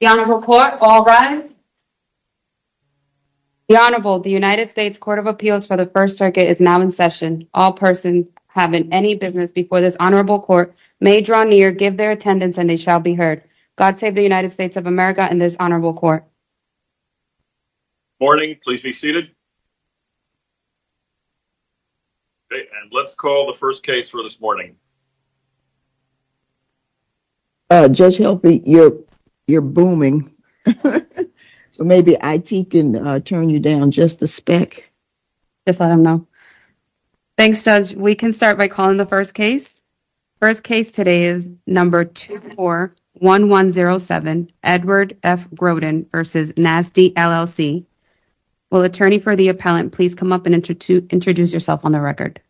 The Honorable, the United States Court of Appeals for the First Circuit is now in session. All persons having any business before this Honorable Court may draw near, give their attendance and they shall be heard. God save the United States of America and this Honorable Court. Good morning, please be seated. Let's call the first case for this morning. Judge Healthy, you're booming, so maybe IT can turn you down just a speck. Just let them know. Thanks Judge. We can start by calling the first case. First case today is number 241107, Edward F. Groden v. NASDI, LLC. Will the attorney for the appellant please come up and introduce yourself on the record?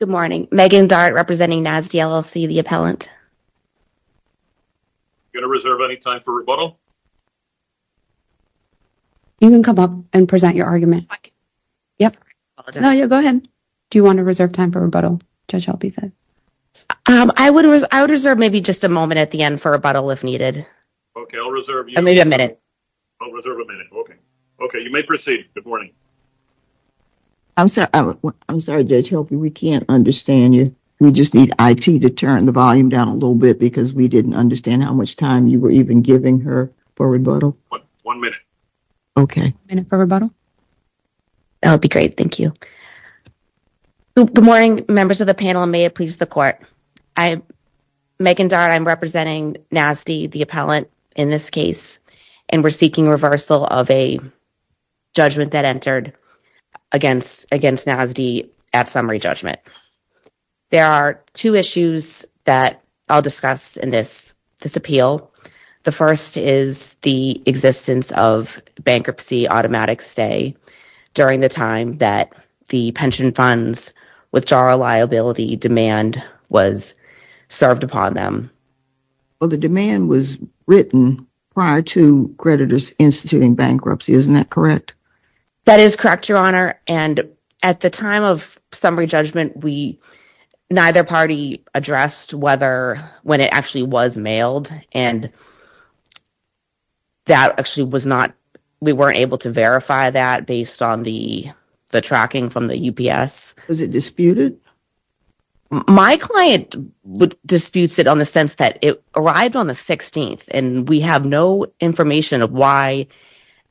Good morning, Megan Dart representing NASDI, LLC, the appellant. Are you going to reserve any time for rebuttal? You can come up and present your argument. Go ahead. Do you want to reserve time for rebuttal, Judge Healthy said? I would reserve maybe just a moment at the end for rebuttal if needed. Okay, I'll reserve you a minute. I'll reserve a minute. Okay, you may proceed. Good morning. I'm sorry, Judge Healthy, we can't understand you. We just need IT to turn the volume down a little bit because we didn't understand how much time you were even giving her for rebuttal. One minute. Okay. A minute for rebuttal? That would be great. Thank you. Good morning, members of the panel, and may it please the court. I, Megan Dart, I'm representing NASDI, the appellant, in this case, and we're seeking reversal of a judgment that entered against NASDI at summary judgment. There are two issues that I'll discuss in this appeal. The first is the existence of bankruptcy automatic stay during the time that the pension funds withdrawal liability demand was served upon them. Well, the demand was written prior to creditors instituting bankruptcy. Isn't that correct? That is correct, Your Honor, and at the time of summary judgment, neither party addressed whether when it actually was mailed, and that actually was not, we weren't able to verify that based on the tracking from the UPS. Was it disputed? My client disputes it on the sense that it arrived on the 16th, and we have no information of why,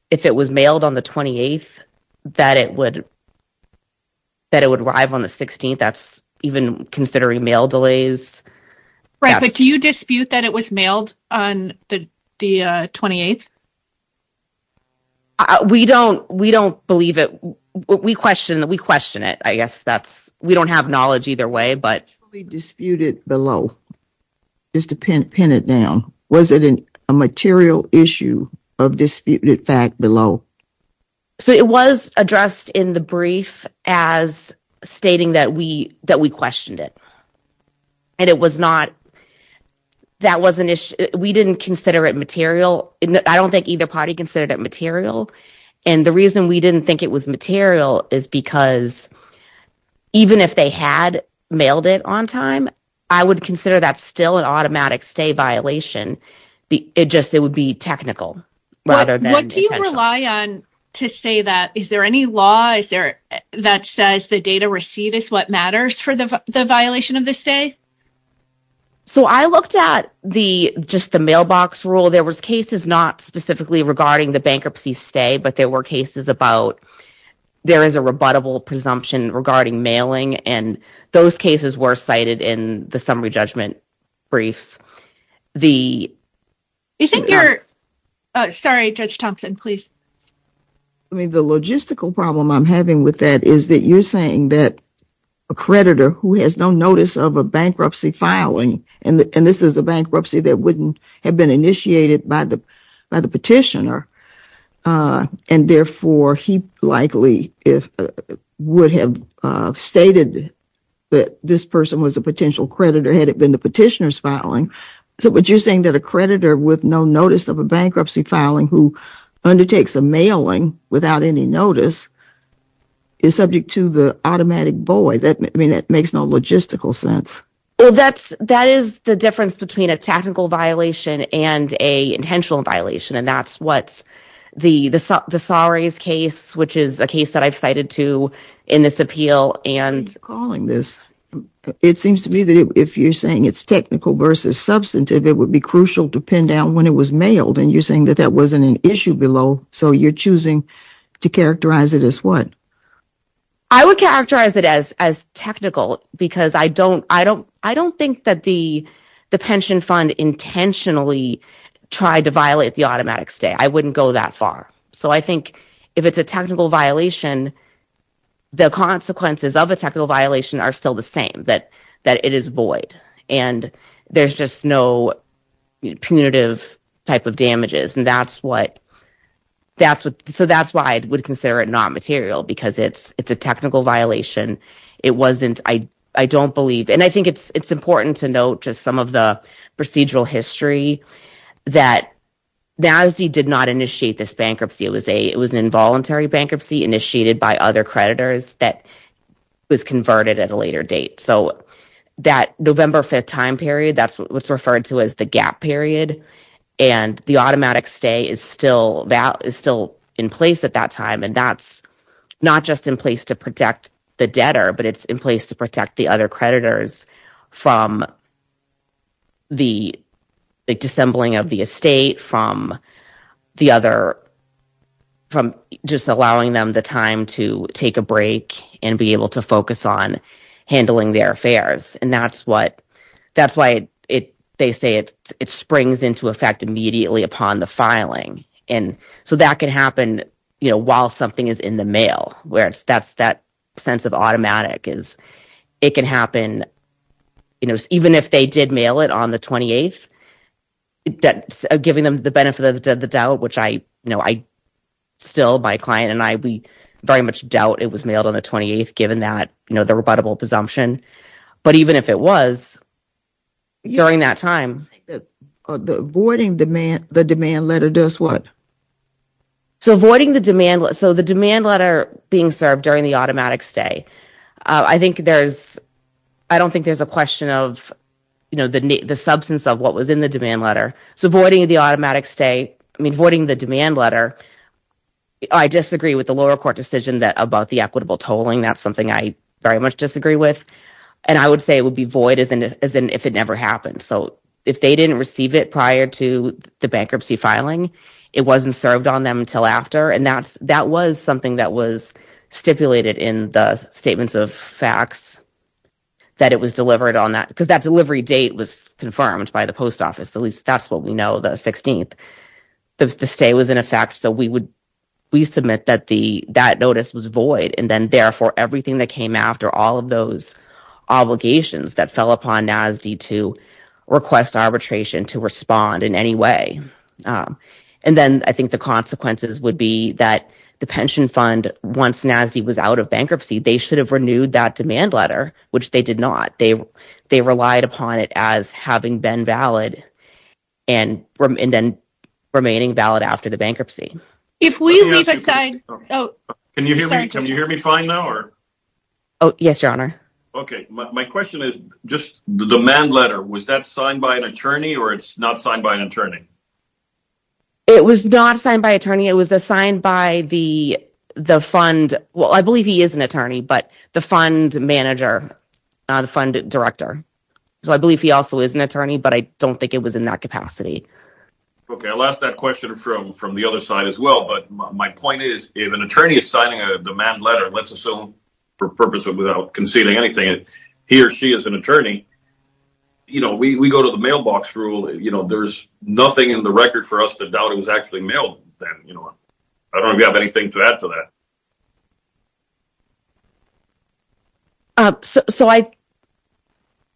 if it was mailed on the 28th, that it would arrive on the 16th. That's even considering mail delays. Right, but do you dispute that it was mailed on the 28th? We don't believe it. We question it. I guess that's, we don't have knowledge either way, but. Disputed below, just to pin it down. Was it a material issue of disputed fact below? So it was addressed in the brief as stating that we questioned it, and it was not, that was an issue, we didn't consider it material, I don't think either party considered it material, and the reason we didn't think it was material is because even if they had mailed it on time, I would consider that still an automatic stay violation, it just, it would be technical What do you rely on to say that, is there any law that says the data received is what matters for the violation of the stay? So I looked at the, just the mailbox rule, there was cases not specifically regarding the bankruptcy stay, but there were cases about, there is a rebuttable presumption regarding mailing, and those cases were cited in the summary judgment briefs. Is it your, sorry Judge Thompson, please. I mean the logistical problem I'm having with that is that you're saying that a creditor who has no notice of a bankruptcy filing, and this is a bankruptcy that wouldn't have been initiated by the petitioner, and therefore he likely would have stated that this person was a potential creditor had it been the petitioner's filing, so what you're saying that a creditor with no notice of a bankruptcy filing who undertakes a mailing without any notice, is subject to the automatic void, I mean that makes no logistical sense. Well that's, that is the difference between a technical violation and a intentional violation, and that's what's, the Saris case, which is a case that I've cited to in this appeal, and It seems to me that if you're saying it's technical versus substantive, it would be crucial to pin down when it was mailed, and you're saying that that wasn't an issue below, so you're choosing to characterize it as what? I would characterize it as technical, because I don't think that the pension fund intentionally tried to violate the automatic stay, I wouldn't go that far, so I think if it's a technical violation, the consequences of a technical violation are still the same, that it is void, and there's just no punitive type of damages, and that's what, so that's why I would consider it not material, because it's a technical violation, it wasn't, I don't believe, and I think it's important to note just some of the procedural history, that NASD did not initiate this bankruptcy, it was an involuntary bankruptcy initiated by other creditors that was converted at a later date, so that November 5th time period, that's what's referred to as the gap period, and the automatic stay is still in place at that time, and that's not just in place to protect the debtor, but it's in place to protect the other creditors from the dissembling of the estate, from the other, from just allowing them the time to take a break and be able to focus on handling their affairs, and that's what, that's why they say it springs into effect immediately upon the filing, and so that can happen while something is in the mail, where it's, that's, that sense of automatic is, it can happen, you know, even if they did mail it on the 28th, that, giving them the benefit of the doubt, which I, you know, I still, my client and I, we very much doubt it was mailed on the 28th, given that, you know, the rebuttable presumption, but even if it was, during that time. I think that voiding the demand letter does what? So, voiding the demand, so the demand letter being served during the automatic stay, I think there's, I don't think there's a question of, you know, the substance of what was in the demand letter, so voiding the automatic stay, I mean, voiding the demand letter, I disagree with the lower court decision about the equitable tolling, that's something I very much disagree with, and I would say it would be void as in, as in, if it never happened, so if they didn't receive it prior to the bankruptcy filing, it wasn't served on them until after, and that's, that was something that was stipulated in the statements of facts, that it was delivered on that, because that delivery date was confirmed by the post office, at least that's what we know, the 16th, the stay was in effect, so we would, we submit that the, that notice was void, and then, therefore, everything that came after, all of those obligations that fell upon NASD to request arbitration to respond in any way, and then, I think the consequences would be that the pension fund, once NASD was out of bankruptcy, they should have renewed that demand letter, which they did not, they, they relied upon it as having been valid, and then remaining valid after the bankruptcy. If we leave aside, oh, can you hear me, can you hear me fine now, or? Oh, yes, your honor. Okay, my question is, just the demand letter, was that signed by an attorney, or it's not signed by an attorney? It was not signed by an attorney, it was assigned by the, the fund, well, I believe he is an attorney, but the fund manager, the fund director, so I believe he also is an attorney, but I don't think it was in that capacity. Okay, I'll ask that question from, from the other side as well, but my point is, if an attorney is signing a demand letter, let's assume, for purpose of, without conceding anything, he or she is an attorney, you know, we, we go to the mailbox rule, you know, there's nothing in the record for us to doubt it was actually mailed, then, you know, I don't have anything to add to that. So, so I,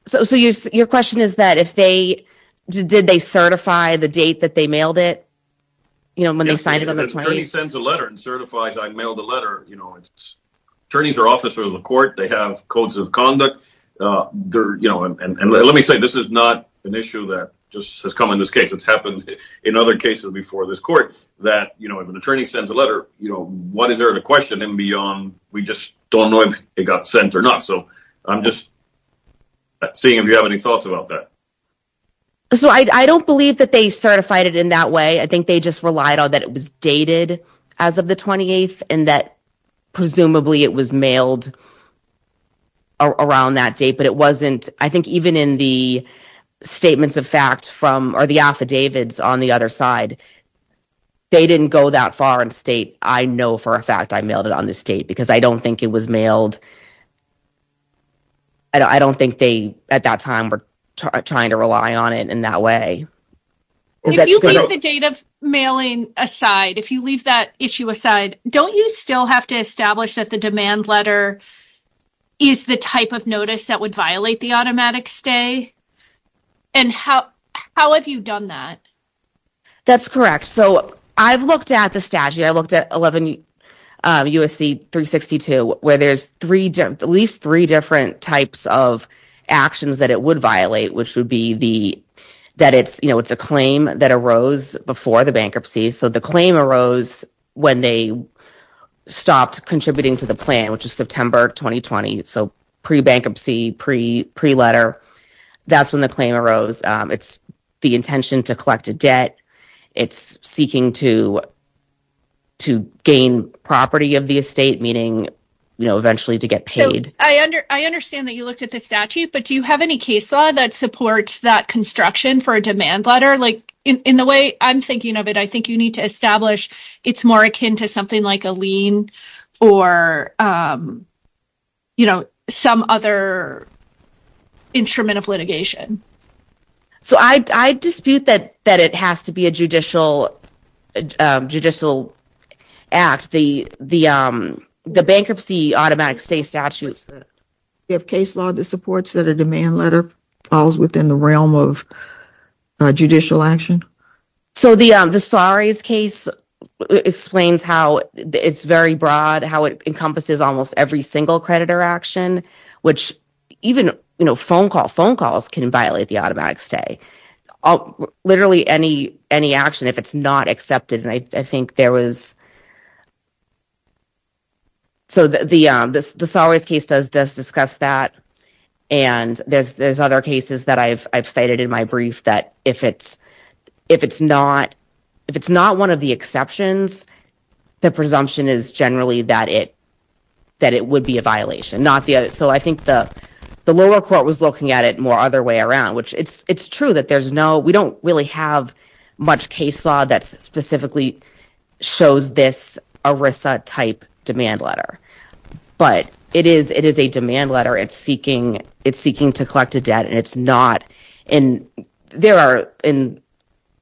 so, so your, your question is that if they, did they certify the date that they mailed it, you know, when they signed it on the 20th? If an attorney sends a letter and certifies I mailed a letter, you know, attorneys are officers of the court, they have codes of conduct, they're, you know, and, and let me say, this is not an issue that just has come in this case, it's happened in other cases before this court, that, you know, if an attorney sends a letter, you know, what is there to question him beyond, we just don't know if it got sent or not, so I'm just seeing if you have any thoughts about that. So I don't believe that they certified it in that way, I think they just relied on that it was dated as of the 28th, and that presumably it was mailed around that date, but it wasn't, I think even in the statements of fact from, or the affidavits on the other side, they didn't go that far and state, I know for a fact I mailed it on this date, because I don't think it was mailed. I don't think they, at that time, were trying to rely on it in that way. If you leave the date of mailing aside, if you leave that issue aside, don't you still have to establish that the demand letter is the type of notice that would violate the automatic stay? And how, how have you done that? That's correct. So I've looked at the statute, I've looked at 11 U.S.C. 362, where there's three, at least three different types of actions that it would violate, which would be the, that it's, you know, it's a claim that arose before the bankruptcy, so the claim arose when they stopped contributing to the plan, which was September 2020, so pre-bankruptcy, pre-letter, that's when the claim arose. It's the intention to collect a debt, it's seeking to, to gain property of the estate, meaning, you know, eventually to get paid. So I understand that you looked at the statute, but do you have any case law that supports that construction for a demand letter? Like, in the way I'm thinking of it, I think you need to establish it's more akin to something like a lien or, you know, some other instrument of litigation. So I, I dispute that, that it has to be a judicial, judicial act. The, the bankruptcy automatic stay statute. Do you have case law that supports that a demand letter falls within the realm of judicial action? So the, the Saris case explains how it's very broad, how it encompasses almost every single creditor action, which even, you know, phone call, phone calls can violate the automatic stay. Literally any, any action, if it's not accepted, and I think there was, so the, the, the Saris case does, does discuss that, and there's, there's other cases that I've, I've cited in my brief that if it's, if it's not, if it's not one of the exceptions, the presumption is generally that it, that it would be a violation, not the other. So I think the, the lower court was looking at it more other way around, which it's, it's true that there's no, we don't really have much case law that specifically shows this ERISA type demand letter, but it is, it is a demand letter. It's seeking, it's seeking to collect a debt, and it's not, and there are, in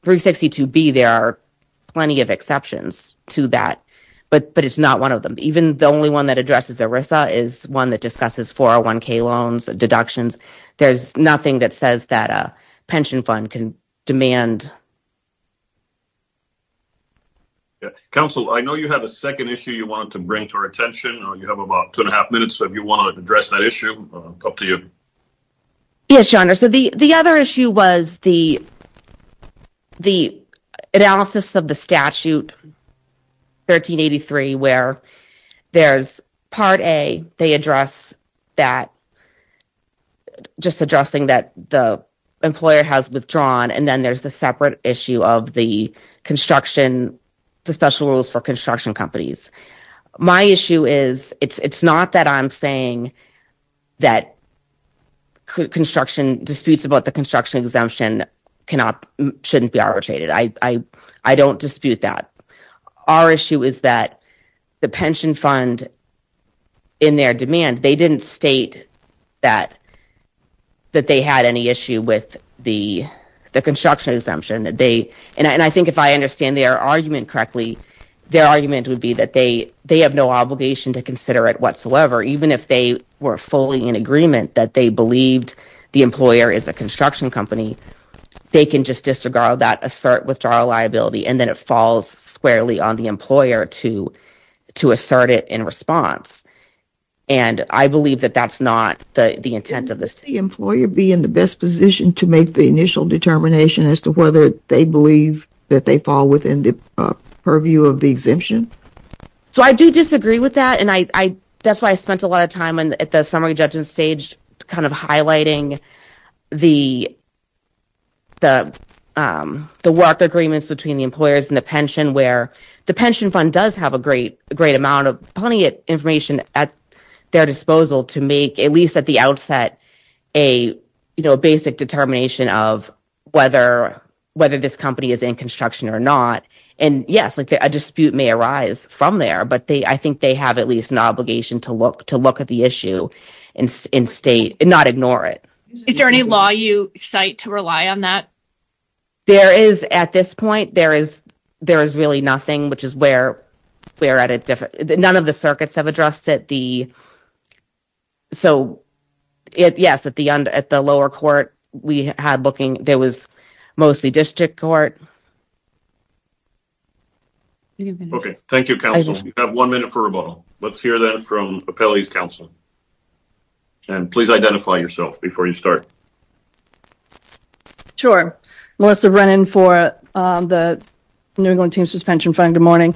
362B, there are plenty of exceptions to that, but, but it's not one of them. Even the only one that addresses ERISA is one that discusses 401k loans, deductions. There's nothing that says that a pension fund can demand. Council, I know you had a second issue you wanted to bring to our attention. You have about two and a half minutes, so if you want to address that issue, up to you. Yes, Your Honor. So the, the other issue was the, the analysis of the statute 1383, where there's part A, they address that, just addressing that the employer has withdrawn, and then there's the separate issue of the construction, the special rules for construction companies. My issue is, it's, it's not that I'm saying that construction disputes about the construction exemption cannot, shouldn't be arbitrated. I, I, I don't dispute that. Our issue is that the pension fund, in their demand, they didn't state that, that they had any issue with the, the construction exemption that they, and I, and I think if I understand their argument correctly, their argument would be that they, they have no obligation to consider it whatsoever, even if they were fully in agreement that they believed the employer is a construction company, they can just disregard that, assert withdrawal liability, and then it falls squarely on the employer to, to assert it in response, and I believe that that's not the, the intent of the statute. Wouldn't the employer be in the best position to make the initial determination as to whether they believe that they fall within the purview of the exemption? So, I do disagree with that, and I, I, that's why I spent a lot of time at the summary judgment stage kind of highlighting the, the, the work agreements between the employers and the pension, where the pension fund does have a great, great amount of, plenty of information at their disposal to make, at least at the outset, a, you know, basic determination of whether, whether this company is in construction or not, and yes, like, a dispute may arise from there, but they, I think they have at least an obligation to look, to look at the issue and, and state, and not ignore it. Is there any law you cite to rely on that? There is, at this point, there is, there is really nothing, which is where, where at a different, none of the circuits have addressed it. So, yes, at the, at the lower court, we had looking, there was mostly district court. Okay, thank you, counsel. We have one minute for rebuttal. Let's hear that from Appellee's counsel, and please identify yourself before you start. Sure. Melissa Rennan for the New England Teams Pension Fund. Good morning.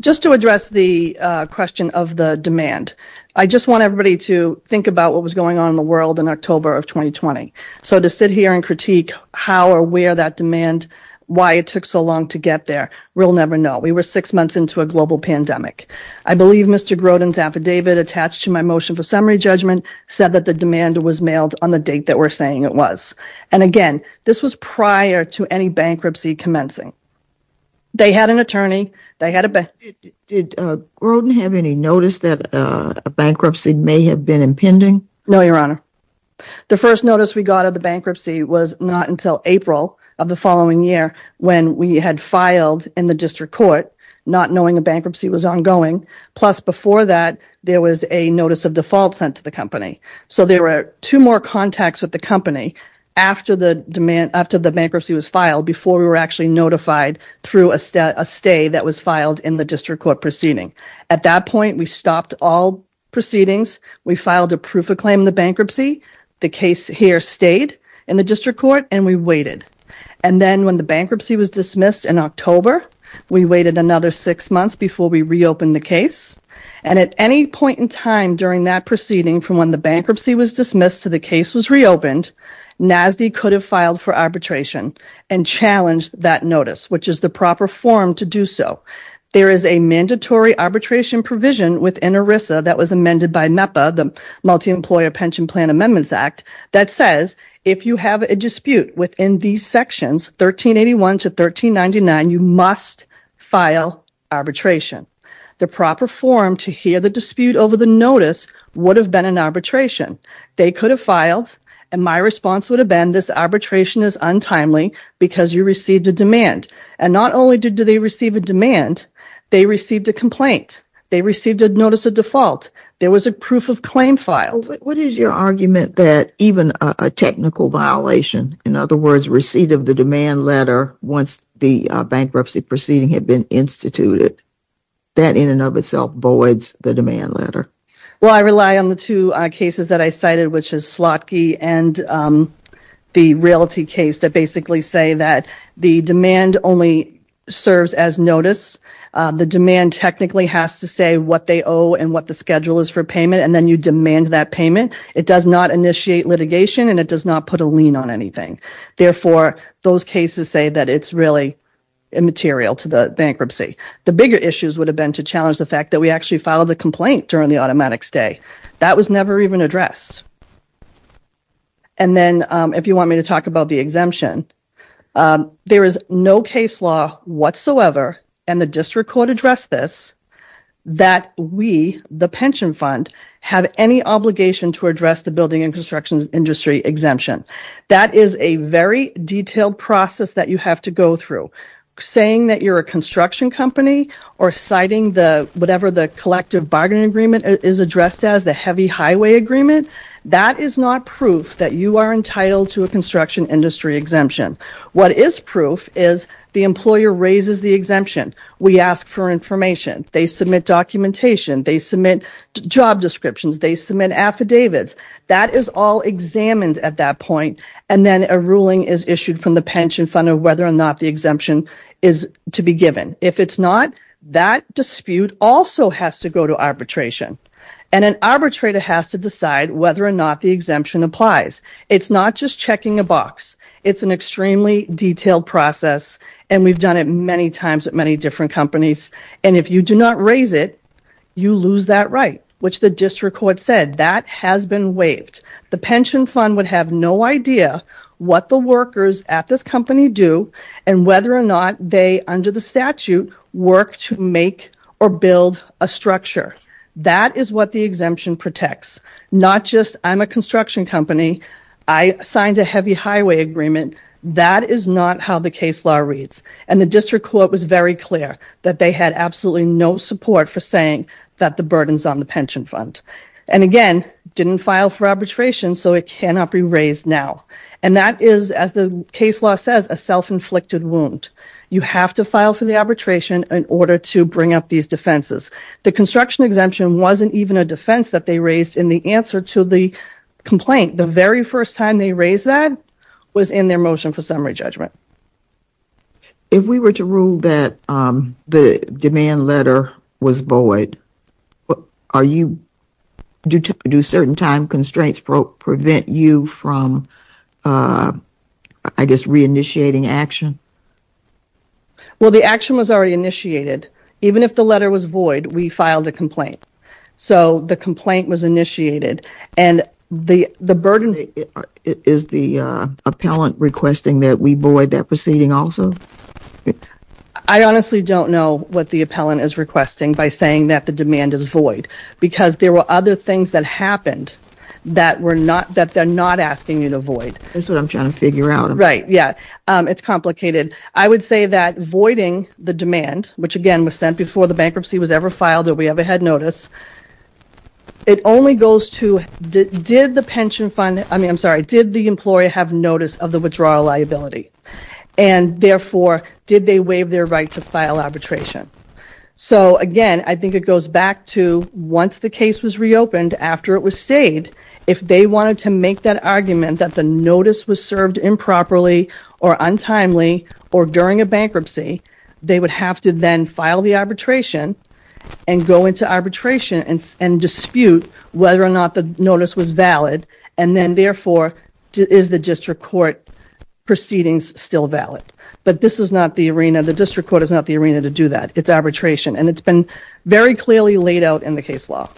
Just to address the question of the demand, I just want everybody to think about what was going on in the world in October of 2020. So, to sit here and critique how or where that demand, why it took so long to get there, we'll never know. We were six months into a global pandemic. I believe Mr. Grodin's affidavit attached to my motion for summary judgment said that the demand was mailed on the date that we're saying it was, and again, this was prior to any bankruptcy commencing. They had an attorney. They had a... Did Grodin have any notice that a bankruptcy may have been impending? No, Your Honor. The first notice we got of the bankruptcy was not until April of the following year when we had filed in the district court, not knowing a bankruptcy was ongoing. Plus, before that, there was a notice of default sent to the company. So, there were two more contacts with the company after the demand, after the bankruptcy was filed before we were actually notified through a stay that was filed in the district court proceeding. At that point, we stopped all proceedings. We filed a proof of claim in the bankruptcy. The case here stayed in the district court, and we waited. And then, when the bankruptcy was dismissed in October, we waited another six months before we reopened the case. And at any point in time during that proceeding from when the bankruptcy was dismissed to the case was reopened, NASD could have filed for arbitration and challenged that notice, which is the proper form to do so. There is a mandatory arbitration provision within ERISA that was amended by MEPA, the Multi-Employer Pension Plan Amendments Act, that says if you have a dispute within these sections, 1381 to 1399, you must file arbitration. The proper form to hear the dispute over the notice would have been an arbitration. They could have filed, and my response would have been this arbitration is untimely because you received a demand. And not only did they receive a demand, they received a complaint. They received a notice of default. There was a proof of claim filed. What is your argument that even a technical violation, in other words, receipt of the demand letter once the bankruptcy proceeding had been instituted, that in and of itself voids the demand letter? Well, I rely on the two cases that I cited, which is Slotkey and the Realty case that basically say that the demand only serves as notice. The demand technically has to say what they owe and what the schedule is for payment, and then you demand that payment. It does not initiate litigation, and it does not put a lien on anything. Therefore, those cases say that it's really immaterial to the bankruptcy. The bigger issues would have been to challenge the fact that we actually filed the automatic stay. That was never even addressed. And then if you want me to talk about the exemption, there is no case law whatsoever, and the district court addressed this, that we, the pension fund, have any obligation to address the building and construction industry exemption. That is a very detailed process that you have to go through. Saying that you're a construction company or citing whatever the collective bargaining agreement is addressed as, the heavy highway agreement, that is not proof that you are entitled to a construction industry exemption. What is proof is the employer raises the exemption. We ask for information. They submit documentation. They submit job descriptions. They submit affidavits. That is all examined at that point, and then a ruling is issued from the pension fund of whether or not the exemption is to be given. If it's not, that dispute also has to go to arbitration, and an arbitrator has to decide whether or not the exemption applies. It's not just checking a box. It's an extremely detailed process, and we've done it many times at many different companies, and if you do not raise it, you lose that right, which the district court said that has been waived. The pension fund would have no idea what the workers at this company do and whether or not they, under the statute, work to make or build a structure. That is what the exemption protects, not just I'm a construction company. I signed a heavy highway agreement. That is not how the case law reads, and the district court was very clear that they had absolutely no support for saying that the burden's on the pension fund, and again, didn't file for arbitration, so it cannot be raised now, and that is, as the case law says, a self-inflicted wound. You have to file for the arbitration in order to bring up these defenses. The construction exemption wasn't even a defense that they raised in the answer to the complaint. The very first time they raised that was in their motion for summary judgment. If we were to rule that the demand letter was void, do certain time constraints prevent you from, I guess, reinitiating action? Well, the action was already initiated. Even if the letter was void, we filed a complaint, so the complaint was initiated, and the burden... Is the appellant requesting that we void that proceeding also? I honestly don't know what the appellant is requesting by saying that the demand is not asking you to void. That's what I'm trying to figure out. Right, yeah. It's complicated. I would say that voiding the demand, which, again, was sent before the bankruptcy was ever filed or we ever had notice, it only goes to, did the pension fund... I mean, I'm sorry, did the employer have notice of the withdrawal liability? And, therefore, did they waive their right to file arbitration? So, again, I think it goes back to, once the case was reopened, after it was stayed, if they wanted to make that argument that the notice was served improperly or untimely or during a bankruptcy, they would have to then file the arbitration and go into arbitration and dispute whether or not the notice was valid, and then, therefore, is the district court proceedings still valid? But this is not the arena. The district court is not the arena to do that. It's arbitration. And it's been very clearly laid out in the case law.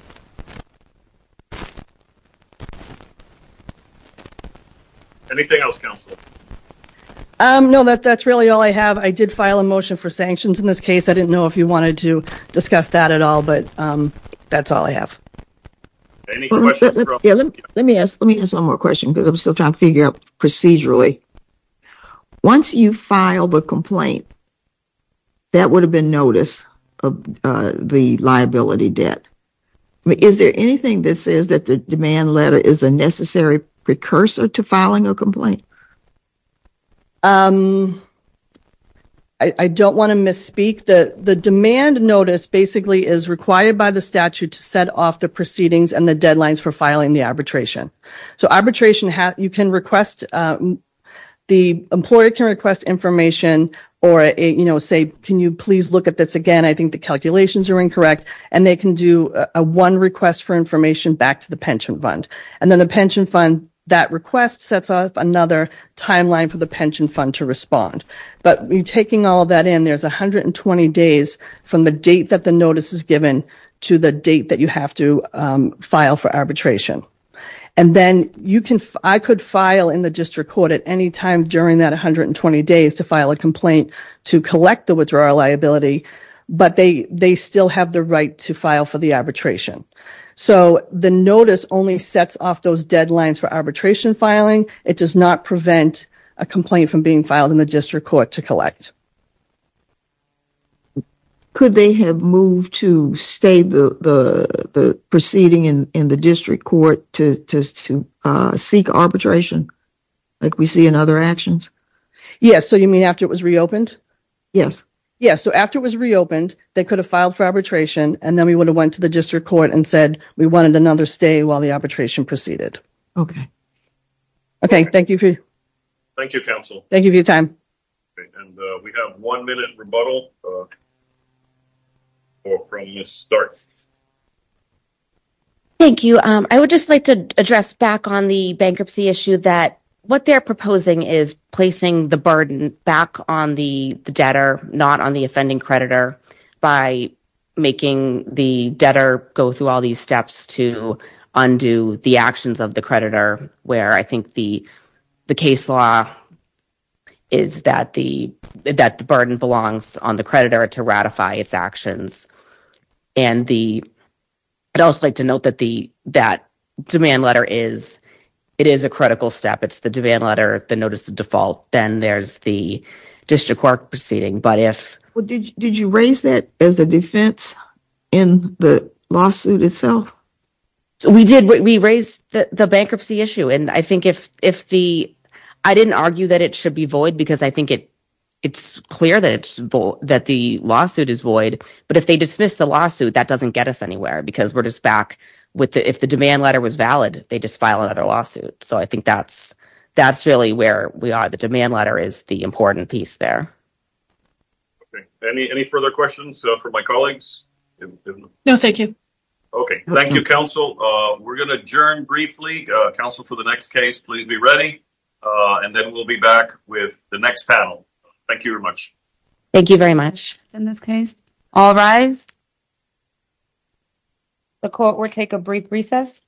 Anything else, counsel? No, that's really all I have. I did file a motion for sanctions in this case. I didn't know if you wanted to discuss that at all, but that's all I have. Any questions? Let me ask one more question because I'm still trying to figure out procedurally. Once you file the complaint, that would have been notice of the liability debt. Is there anything that says that the demand letter is a necessary precursor to filing a complaint? I don't want to misspeak. The demand notice basically is required by the statute to set off the proceedings and the deadlines for filing the arbitration. So arbitration, you can request, the employer can request information or say, can you please look at this again? I think the calculations are incorrect. And they can do a one request for information back to the pension fund. And then the pension fund, that request sets off another timeline for the pension fund to respond. But taking all that in, there's 120 days from the date that the notice is given to the date that you have to file for arbitration. And then I could file in the district court at any time during that 120 days to file a complaint to collect the withdrawal liability, but they still have the right to file for the arbitration. So the notice only sets off those deadlines for arbitration filing. It does not prevent a complaint from being filed in the district court to collect. Could they have moved to stay the proceeding in the district court to seek arbitration like we see in other actions? Yes. So you mean after it was reopened? Yes. Yes. So after it was reopened, they could have filed for arbitration and then we would have went to the district court and said we wanted another stay while the arbitration proceeded. Okay. Okay. Thank you. Thank you, counsel. Thank you for your time. We have one minute rebuttal from Ms. Stark. Thank you. I would just like to address back on the bankruptcy issue that what they're proposing is placing the burden back on the debtor, not on the offending creditor by making the debtor go through all these steps to undo the actions of the creditor where I think the case law is that the burden belongs on the creditor to ratify its actions. I'd also like to note that the demand letter is a critical step. It's the demand letter, the notice of default, then there's the district court proceeding. Did you raise that as a defense in the lawsuit itself? We did. We raised the bankruptcy issue and I think if the – I didn't argue that it should be void because I think it's clear that the lawsuit is void, but if they dismiss the lawsuit, that doesn't get us anywhere because we're just back – if the demand letter was valid, they just file another lawsuit. So I think that's really where we are. The demand letter is the important piece there. Okay. Any further questions for my colleagues? No, thank you. Okay. Thank you, counsel. We're going to adjourn briefly. Counsel, for the next case, please be ready and then we'll be back with the next panel. Thank you very much. Thank you very much. In this case, all rise. The court will take a brief recess.